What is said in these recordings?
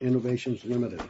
Innovations Ltd.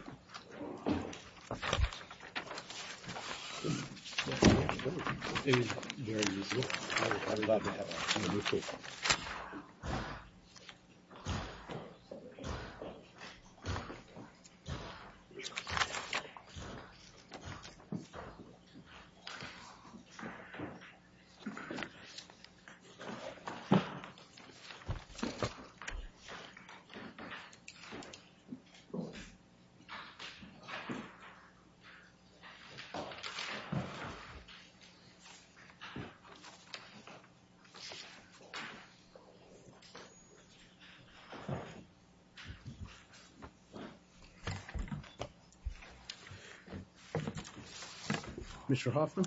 Mr. Hoffman,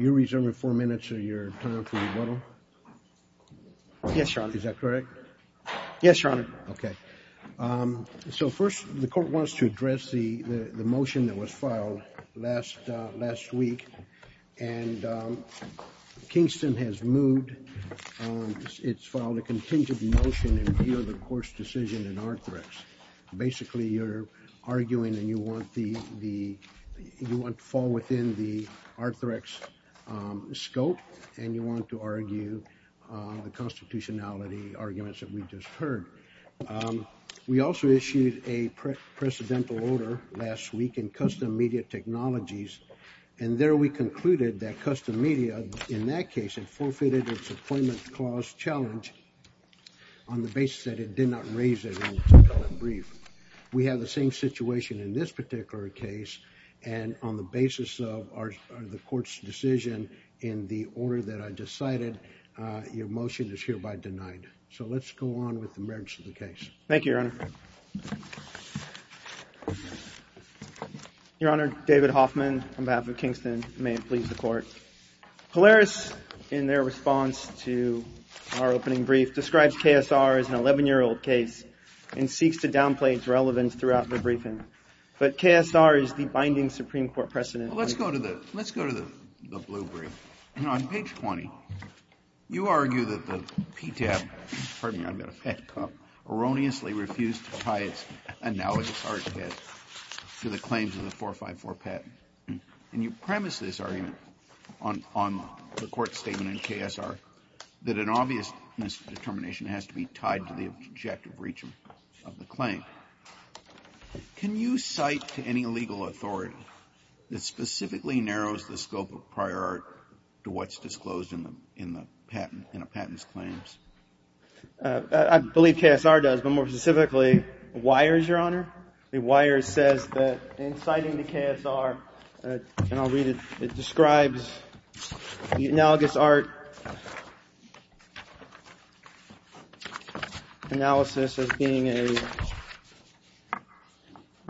you're reserving four minutes of your time for rebuttal. Yes, Your Honor. Is that correct? Yes, Your Honor. Okay. So, first, the court wants to address the motion that was filed last week, and Kingston has moved, it's filed a contingent motion in view of the court's decision in Arthrex. Basically you're arguing and you want the, you want to fall within the Arthrex scope and you want to argue the constitutionality arguments that we just heard. We also issued a precedental order last week in Custom Media Technologies, and there we concluded that Custom Media, in that case, it forfeited its employment clause challenge on the basis that it did not raise it in the brief. We have the same situation in this particular case, and on the basis of the court's decision in the order that I decided, your motion is hereby denied. So let's go on with the merits of the case. Thank you, Your Honor. Your Honor, David Hoffman, on behalf of Kingston, may it please the court. Polaris, in their response to our opening brief, describes KSR as an 11-year-old case and seeks to downplay its relevance throughout the briefing, but KSR is the binding Supreme Court precedent. Well, let's go to the, let's go to the blue brief. On page 20, you argue that the PTAP, pardon me, I've got a pet cough, erroneously refused to tie its analogous arch pet to the claims of the 454 pet, and you premise this argument on the court statement in KSR that an obvious misdetermination has to be tied to the objective breach of the claim. Can you cite to any legal authority that specifically narrows the scope of prior art to what's disclosed in the patent, in a patent's claims? I believe KSR does, but more specifically, WIRES, Your Honor. WIRES says that in citing to KSR, and I'll read it, it describes the analogous art analysis as being a,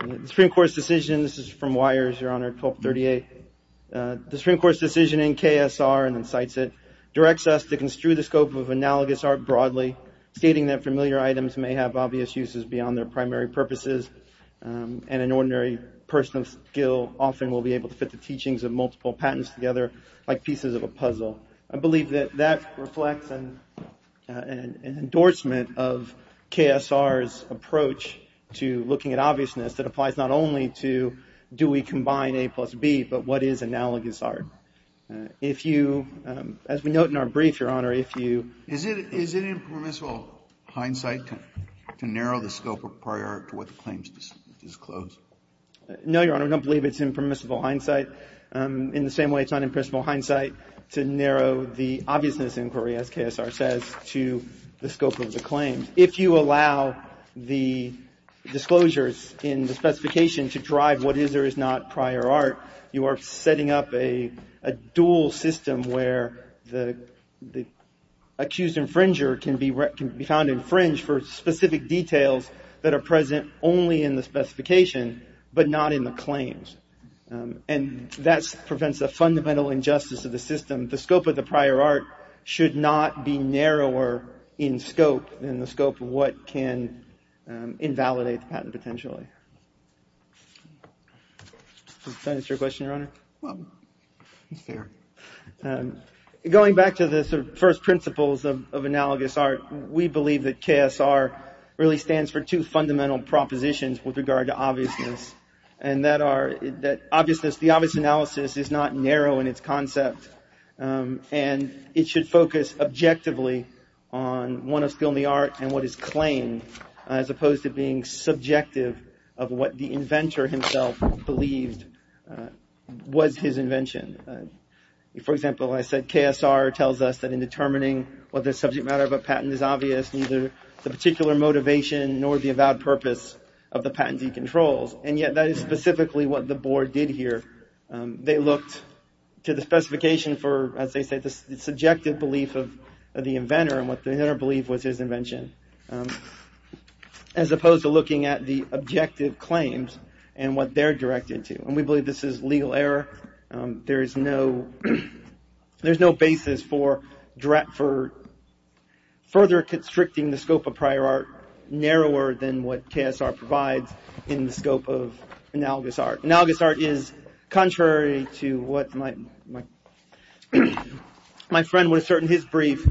the Supreme Court's decision, this is from WIRES, Your Honor, 1238. The Supreme Court's decision in KSR, and then cites it, directs us to construe the scope of analogous art broadly, stating that familiar items may have obvious uses beyond their primary purposes, and an ordinary person of skill often will be able to fit the teachings of multiple patents together, like pieces of a puzzle. I believe that that reflects an endorsement of KSR's approach to looking at obviousness that applies not only to, do we combine A plus B, but what is analogous art? If you, as we note in our brief, Your Honor, if you... Is it impermissible hindsight to narrow the scope of prior art to what the claims disclose? No, Your Honor, I don't believe it's impermissible hindsight. But in the same way, it's not impermissible hindsight to narrow the obviousness inquiry, as KSR says, to the scope of the claims. If you allow the disclosures in the specification to drive what is or is not prior art, you are setting up a dual system where the accused infringer can be found to infringe for specific details that are present only in the specification, but not in the claims. And that prevents a fundamental injustice of the system. The scope of the prior art should not be narrower in scope than the scope of what can invalidate the patent potentially. Does that answer your question, Your Honor? Well, it's there. Going back to the first principles of analogous art, we believe that KSR really stands for two fundamental propositions with regard to obviousness, and that are that obviousness, the obvious analysis is not narrow in its concept, and it should focus objectively on what is still in the art and what is claimed, as opposed to being subjective of what the inventor himself believed was his invention. For example, I said KSR tells us that in determining whether a subject matter of a patent is obvious, neither the particular motivation nor the avowed purpose of the patentee controls, and yet that is specifically what the board did here. They looked to the specification for, as they said, the subjective belief of the inventor and what the inventor believed was his invention, as opposed to looking at the objective claims and what they're directed to, and we believe this is legal error. There is no basis for further constricting the scope of prior art narrower than what KSR provides in the scope of analogous art. Analogous art is contrary to what my friend would assert in his brief.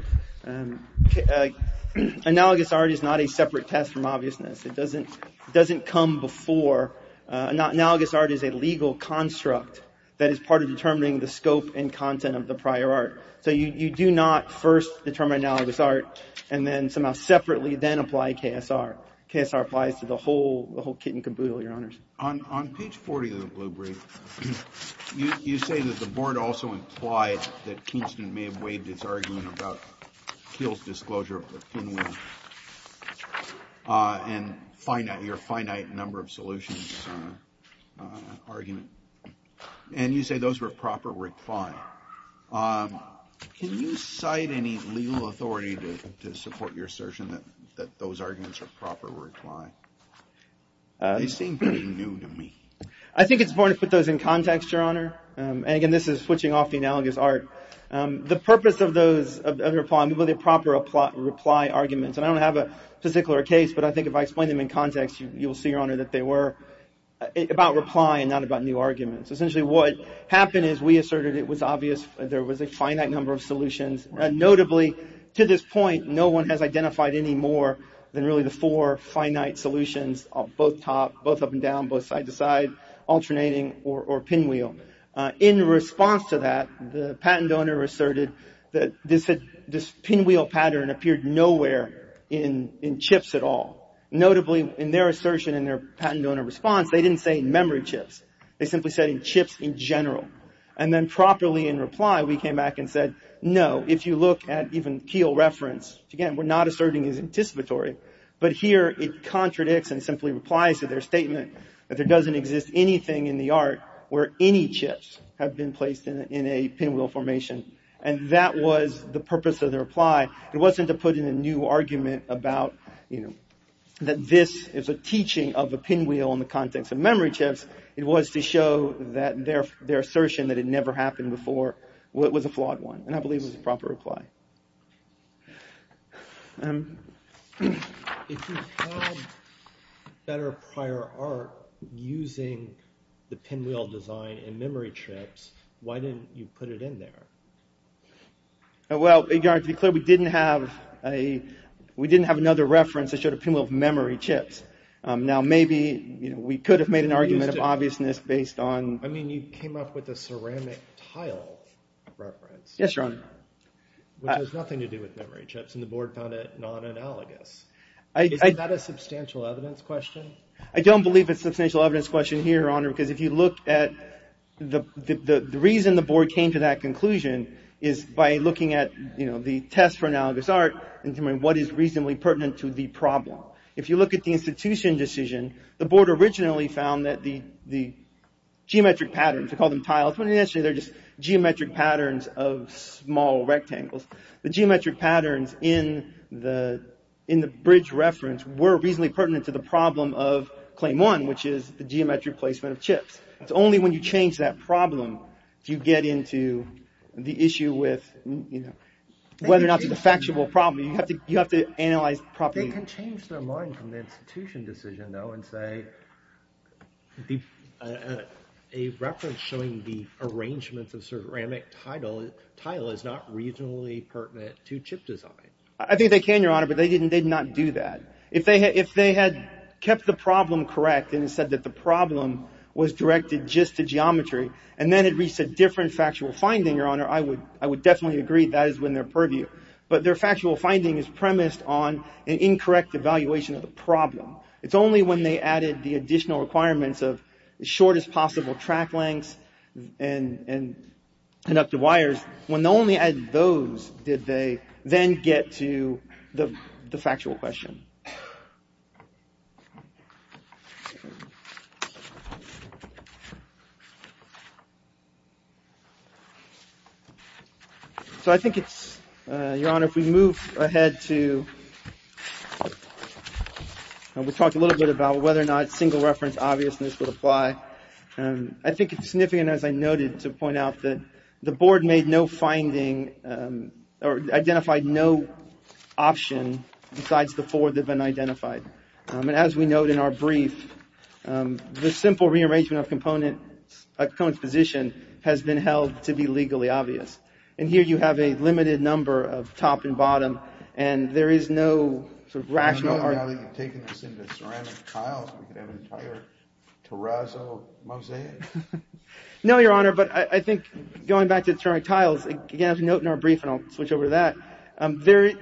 Analogous art is not a separate test from obviousness. It doesn't come before. Analogous art is a legal construct that is part of determining the scope and content of the prior art, so you do not first determine analogous art and then somehow separately then apply KSR. KSR applies to the whole kit and caboodle, your honors. On page 40 of the blue brief, you say that the board also implied that Kingston may have argument, and you say those were proper reply. Can you cite any legal authority to support your assertion that those arguments are proper reply? They seem pretty new to me. I think it's important to put those in context, your honor, and again, this is switching off the analogous art. The purpose of those reply, I mean, were they proper reply arguments, and I don't have a physical or case, but I think if I explain them in context, you will see, your honor, that they were about reply and not about new arguments. Essentially, what happened is we asserted it was obvious, there was a finite number of solutions, and notably, to this point, no one has identified any more than really the four finite solutions, both top, both up and down, both side to side, alternating, or pinwheel. In response to that, the patent owner asserted that this pinwheel pattern appeared nowhere in chips at all. Notably, in their assertion and their patent owner response, they didn't say memory chips. They simply said in chips in general, and then properly in reply, we came back and said, no, if you look at even Keel reference, again, we're not asserting it's anticipatory, but here it contradicts and simply replies to their statement that there doesn't exist anything in the art where any chips have been placed in a pinwheel formation, and that was the purpose of the reply. It wasn't to put in a new argument about that this is a teaching of a pinwheel in the context of memory chips. It was to show that their assertion that it never happened before was a flawed one, and I believe it was a proper reply. If you had better prior art using the pinwheel design in memory chips, why didn't you put it in there? Well, Your Honor, to be clear, we didn't have another reference that showed a pinwheel of memory chips. Now, maybe we could have made an argument of obviousness based on... I mean, you came up with a ceramic tile reference. Yes, Your Honor. Which has nothing to do with memory chips, and the board found it non-analogous. Isn't that a substantial evidence question? I don't believe it's a substantial evidence question here, Your Honor, because if you look at the reason the board came to that conclusion is by looking at the test for analogous art and determining what is reasonably pertinent to the problem. If you look at the institution decision, the board originally found that the geometric patterns, we call them tiles, they're just geometric patterns of small rectangles. The geometric patterns in the bridge reference were reasonably pertinent to the problem of the geometric placement of chips. It's only when you change that problem do you get into the issue with whether or not it's a factuable problem. You have to analyze properly. They can change their mind from the institution decision, though, and say a reference showing the arrangements of ceramic tile is not reasonably pertinent to chip design. I think they can, Your Honor, but they did not do that. If they had kept the problem correct and said that the problem was directed just to geometry and then it reached a different factual finding, Your Honor, I would definitely agree that is when they're purviewed. But their factual finding is premised on an incorrect evaluation of the problem. It's only when they added the additional requirements of shortest possible track lengths and conductive So, I think it's, Your Honor, if we move ahead to, we talked a little bit about whether or not single reference obviousness would apply. I think it's significant, as I noted, to point out that the board made no finding or identified no option besides the four that have been identified. As we note in our brief, the simple rearrangement of components position has been held to be legally obvious. And here you have a limited number of top and bottom, and there is no sort of rational argument. Now that you've taken this into ceramic tiles, we could have an entire terrazzo mosaic. No, Your Honor, but I think going back to the ceramic tiles, again, as we note in our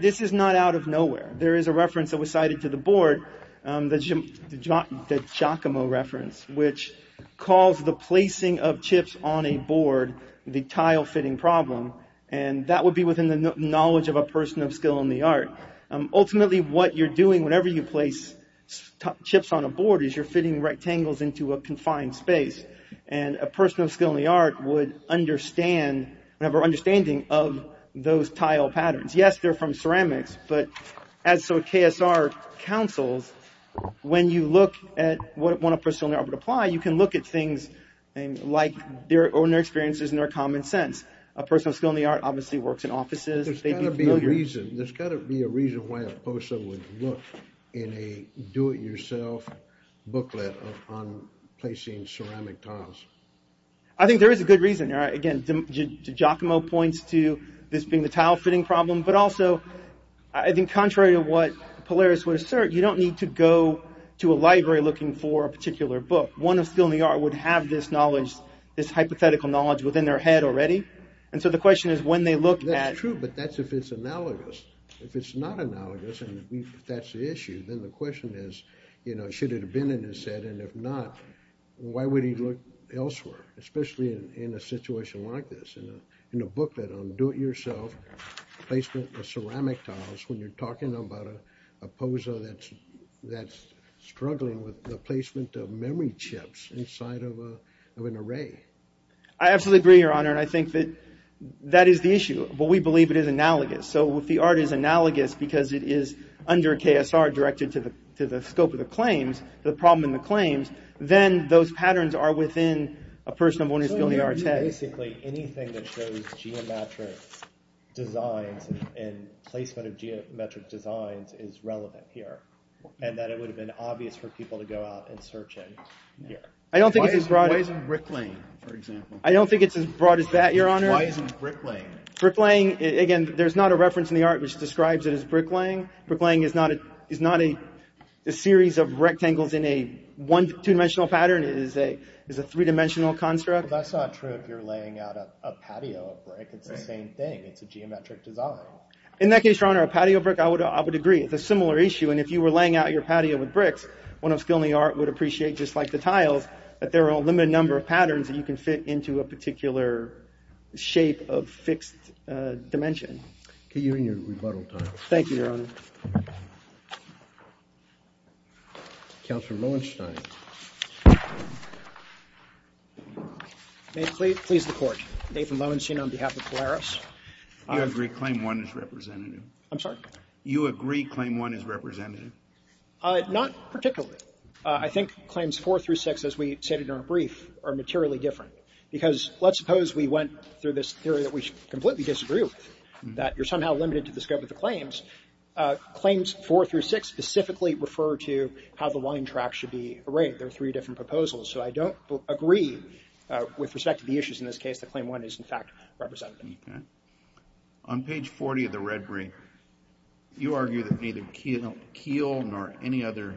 This is not out of nowhere. There is a reference that was cited to the board, the Giacomo reference, which calls the placing of chips on a board the tile-fitting problem, and that would be within the knowledge of a person of skill in the art. Ultimately, what you're doing whenever you place chips on a board is you're fitting rectangles into a confined space, and a person of skill in the art would understand, have an understanding of those tile patterns. Yes, they're from ceramics, but as so KSR counsels, when you look at what a person of skill in the art would apply, you can look at things like their own experiences and their common sense. A person of skill in the art obviously works in offices. There's got to be a reason. There's got to be a reason why a person would look in a do-it-yourself booklet on placing ceramic tiles. I think there is a good reason. Again, Giacomo points to this being the tile-fitting problem, but also I think contrary to what Polaris would assert, you don't need to go to a library looking for a particular book. One of skill in the art would have this knowledge, this hypothetical knowledge within their head already. And so the question is when they look at... That's true, but that's if it's analogous. If it's not analogous, and if that's the issue, then the question is, you know, should it look elsewhere, especially in a situation like this, in a booklet on do-it-yourself placement of ceramic tiles, when you're talking about a pose that's struggling with the placement of memory chips inside of an array. I absolutely agree, Your Honor, and I think that that is the issue, but we believe it is analogous. So if the art is analogous because it is under KSR, directed to the scope of the claims, the problem in the claims, then those patterns are within a person of one's skill in the art's head. So you're saying basically anything that shows geometric designs and placement of geometric designs is relevant here, and that it would have been obvious for people to go out and search it here? I don't think it's as broad... Why isn't bricklaying, for example? I don't think it's as broad as that, Your Honor. Why isn't bricklaying? Bricklaying, again, there's not a reference in the art which describes it as bricklaying. Bricklaying is not a series of rectangles in a two-dimensional pattern, it is a three-dimensional construct. That's not true if you're laying out a patio of brick, it's the same thing, it's a geometric design. In that case, Your Honor, a patio of brick, I would agree, it's a similar issue, and if you were laying out your patio with bricks, one of the skill in the art would appreciate, just like the tiles, that there are a limited number of patterns that you can fit into a particular shape of fixed dimension. Okay, you're in your rebuttal time. Thank you, Your Honor. Counselor Loewenstein. May it please the Court, Nathan Loewenstein on behalf of Polaris. You agree claim one is representative? I'm sorry? You agree claim one is representative? Not particularly. I think claims four through six, as we stated in our brief, are materially different, because let's suppose we went through this theory that we completely disagree with, that you're somehow limited to the scope of the claims. Claims four through six specifically refer to how the line track should be arrayed. There are three different proposals, so I don't agree with respect to the issues in this case that claim one is, in fact, representative. On page 40 of the red brief, you argue that neither Keel nor any other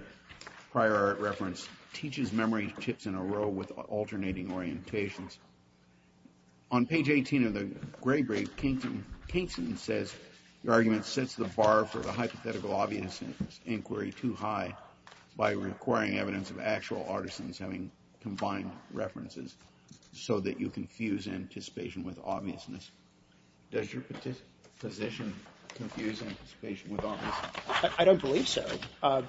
prior art reference teaches memory chips in a row with alternating orientations. On page 18 of the gray brief, Kainston says your argument sets the bar for the hypothetical obviousness inquiry too high by requiring evidence of actual artisans having combined references so that you confuse anticipation with obviousness. Does your position confuse anticipation with obviousness? I don't believe so.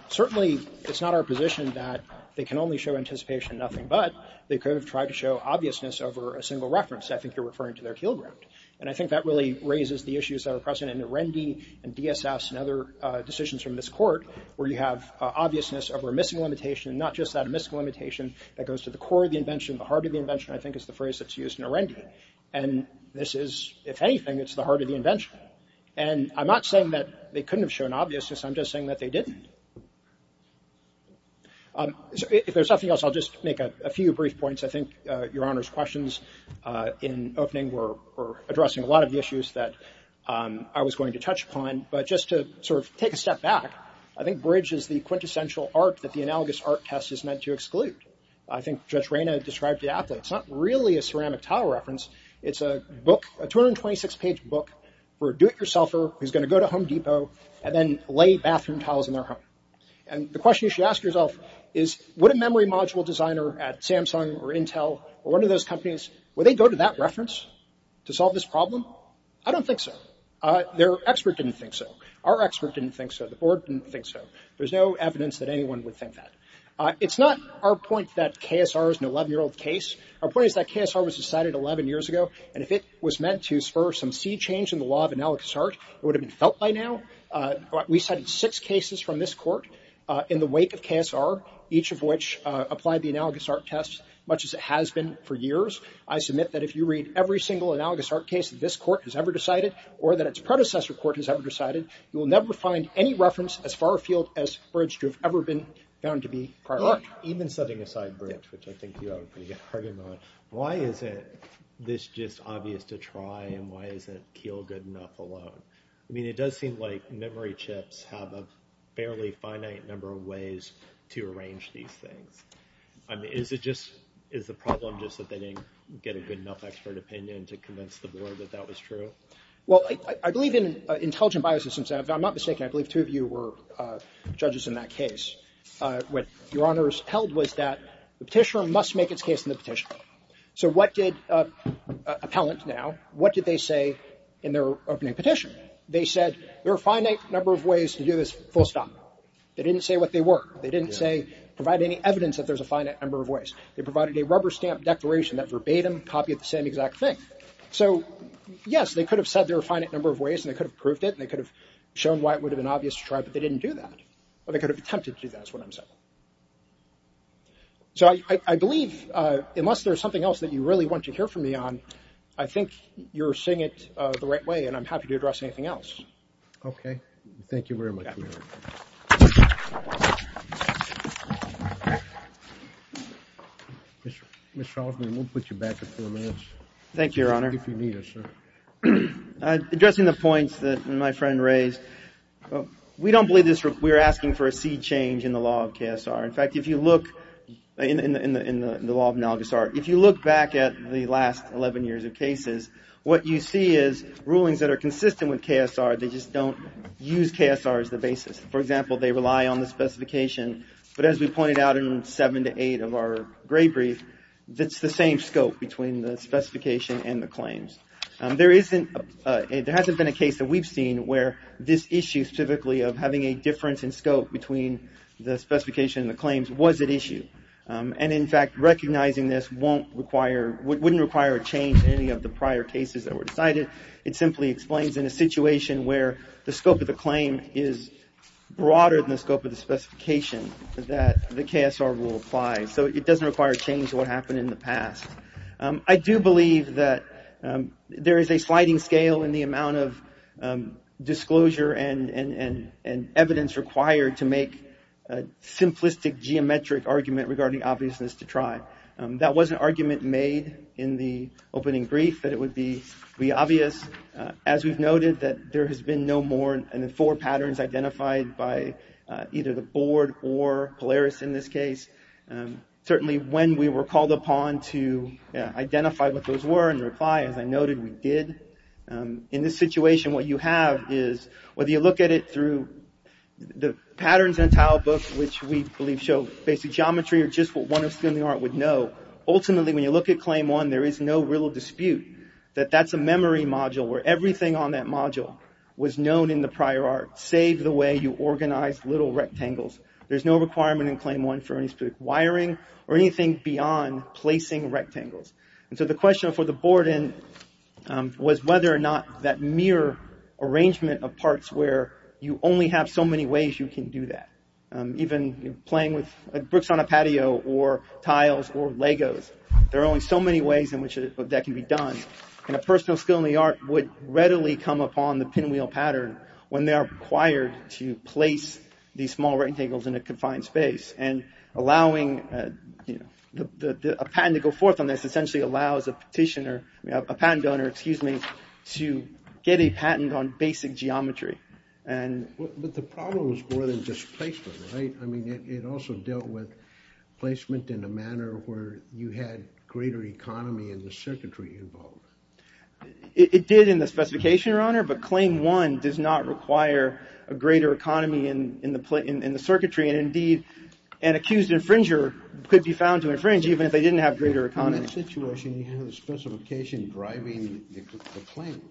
Certainly, it's not our position that they can only show anticipation in nothing but they could have tried to show obviousness over a single reference. I think you're referring to their Keel ground. And I think that really raises the issues that are present in Arendi and DSS and other decisions from this court, where you have obviousness over a missing limitation, and not just that, a missing limitation that goes to the core of the invention, the heart of the invention, I think is the phrase that's used in Arendi. And this is, if anything, it's the heart of the invention. And I'm not saying that they couldn't have shown obviousness, I'm just saying that they didn't. If there's nothing else, I'll just make a few brief points. I think your Honor's questions in opening were addressing a lot of the issues that I was going to touch upon. But just to sort of take a step back, I think Bridge is the quintessential art that the analogous art test is meant to exclude. I think Judge Reyna described the applet. It's not really a ceramic tile reference. It's a book, a 226-page book for a do-it-yourselfer who's going to go to Home Depot and then lay bathroom tiles in their home. And the question you should ask yourself is, would a memory module designer at Samsung or Intel or one of those companies, would they go to that reference to solve this problem? I don't think so. Their expert didn't think so. Our expert didn't think so. The board didn't think so. There's no evidence that anyone would think that. It's not our point that KSR is an 11-year-old case. Our point is that KSR was decided 11 years ago, and if it was meant to spur some sea change in the law of analogous art, it would have been felt by now. We cited six cases from this court in the wake of KSR, each of which applied the analogous art test, much as it has been for years. I submit that if you read every single analogous art case that this court has ever decided or that its predecessor court has ever decided, you will never find any reference as far afield as Bridge to have ever been found to be prior art. Even setting aside Bridge, which I think you have a pretty good argument on, why is it this just obvious to try, and why isn't Kiel good enough alone? I mean, it does seem like memory chips have a fairly finite number of ways to arrange these things. I mean, is it just – is the problem just that they didn't get a good enough expert opinion to convince the board that that was true? Well, I believe in intelligent biosystems – I'm not mistaken, I believe two of you were judges in that case – what Your Honors held was that the petitioner must make its case in the petition. So what did – appellant now – what did they say in their opening petition? They said there are a finite number of ways to do this full stop. They didn't say what they were. They didn't say – provide any evidence that there's a finite number of ways. They provided a rubber stamp declaration that verbatim copied the same exact thing. So yes, they could have said there are a finite number of ways and they could have proved it and they could have shown why it would have been obvious to try, but they didn't do that. Or they could have attempted to do that, is what I'm saying. So I believe, unless there's something else that you really want to hear from me on, I think you're seeing it the right way and I'm happy to address anything else. Okay. Thank you very much. Mr. Salzman, we'll put you back for four minutes. Thank you, Your Honor. If you need us. Addressing the points that my friend raised, we don't believe this – we're asking for a seed change in the law of KSR. In fact, if you look – in the law of analogous art, if you look back at the last 11 years of cases, what you see is rulings that are consistent with KSR, they just don't use KSR as the basis. For example, they rely on the specification, but as we pointed out in seven to eight of our gray brief, it's the same scope between the specification and the claims. There isn't – there hasn't been a case that we've seen where this issue specifically of having a difference in scope between the specification and the claims was at issue. And in fact, recognizing this won't require – wouldn't require a change in any of the prior cases that were decided. It simply explains in a situation where the scope of the claim is broader than the scope of the specification that the KSR rule applies. So it doesn't require a change to what happened in the past. I do believe that there is a sliding scale in the amount of disclosure and evidence required to make a simplistic geometric argument regarding obviousness to try. That was an argument made in the opening brief, that it would be obvious. As we've noted, that there has been no more than four patterns identified by either the what those were in reply. As I noted, we did. In this situation, what you have is whether you look at it through the patterns in the entire book, which we believe show basic geometry or just what one of us in the art would know, ultimately when you look at claim one, there is no real dispute that that's a memory module where everything on that module was known in the prior art, save the way you organize little rectangles. There's no requirement in claim one for any wiring or anything beyond placing rectangles. And so the question for the board and was whether or not that mere arrangement of parts where you only have so many ways you can do that, even playing with bricks on a patio or tiles or Legos. There are only so many ways in which that can be done. And a personal skill in the art would readily come upon the pinwheel pattern when they are required to place these small rectangles in a confined space. And allowing a patent to go forth on this essentially allows a petitioner, a patent donor, excuse me, to get a patent on basic geometry. But the problem was more than just placement, right? I mean, it also dealt with placement in a manner where you had greater economy and the circuitry involved. It did in the specification, Your Honor, but claim one does not require a greater economy in the circuitry. And indeed, an accused infringer could be found to infringe even if they didn't have greater economy. In that situation, you have the specification driving the claim.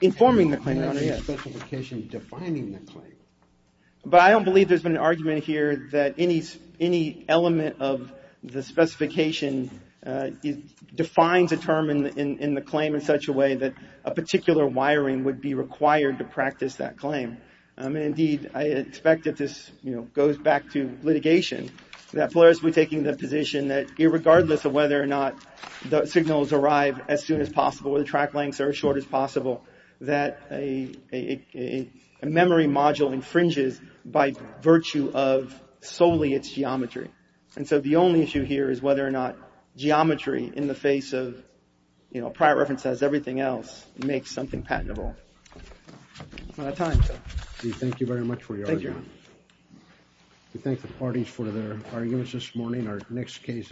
Informing the claim, Your Honor, yes. You have the specification defining the claim. But I don't believe there's been an argument here that any element of the specification defines a term in the claim in such a way that a particular wiring would be required to practice that claim. Indeed, I expect that this, you know, goes back to litigation, that Polaris would be taking the position that irregardless of whether or not the signals arrive as soon as possible or the track lengths are as short as possible, that a memory module infringes by virtue of solely its geometry. And so the only issue here is whether or not geometry in the face of, you know, prior reference as everything else makes something patentable. We're out of time. We thank you very much for your argument. Thank you, Your Honor. We thank the parties for their arguments this morning. Our next case is...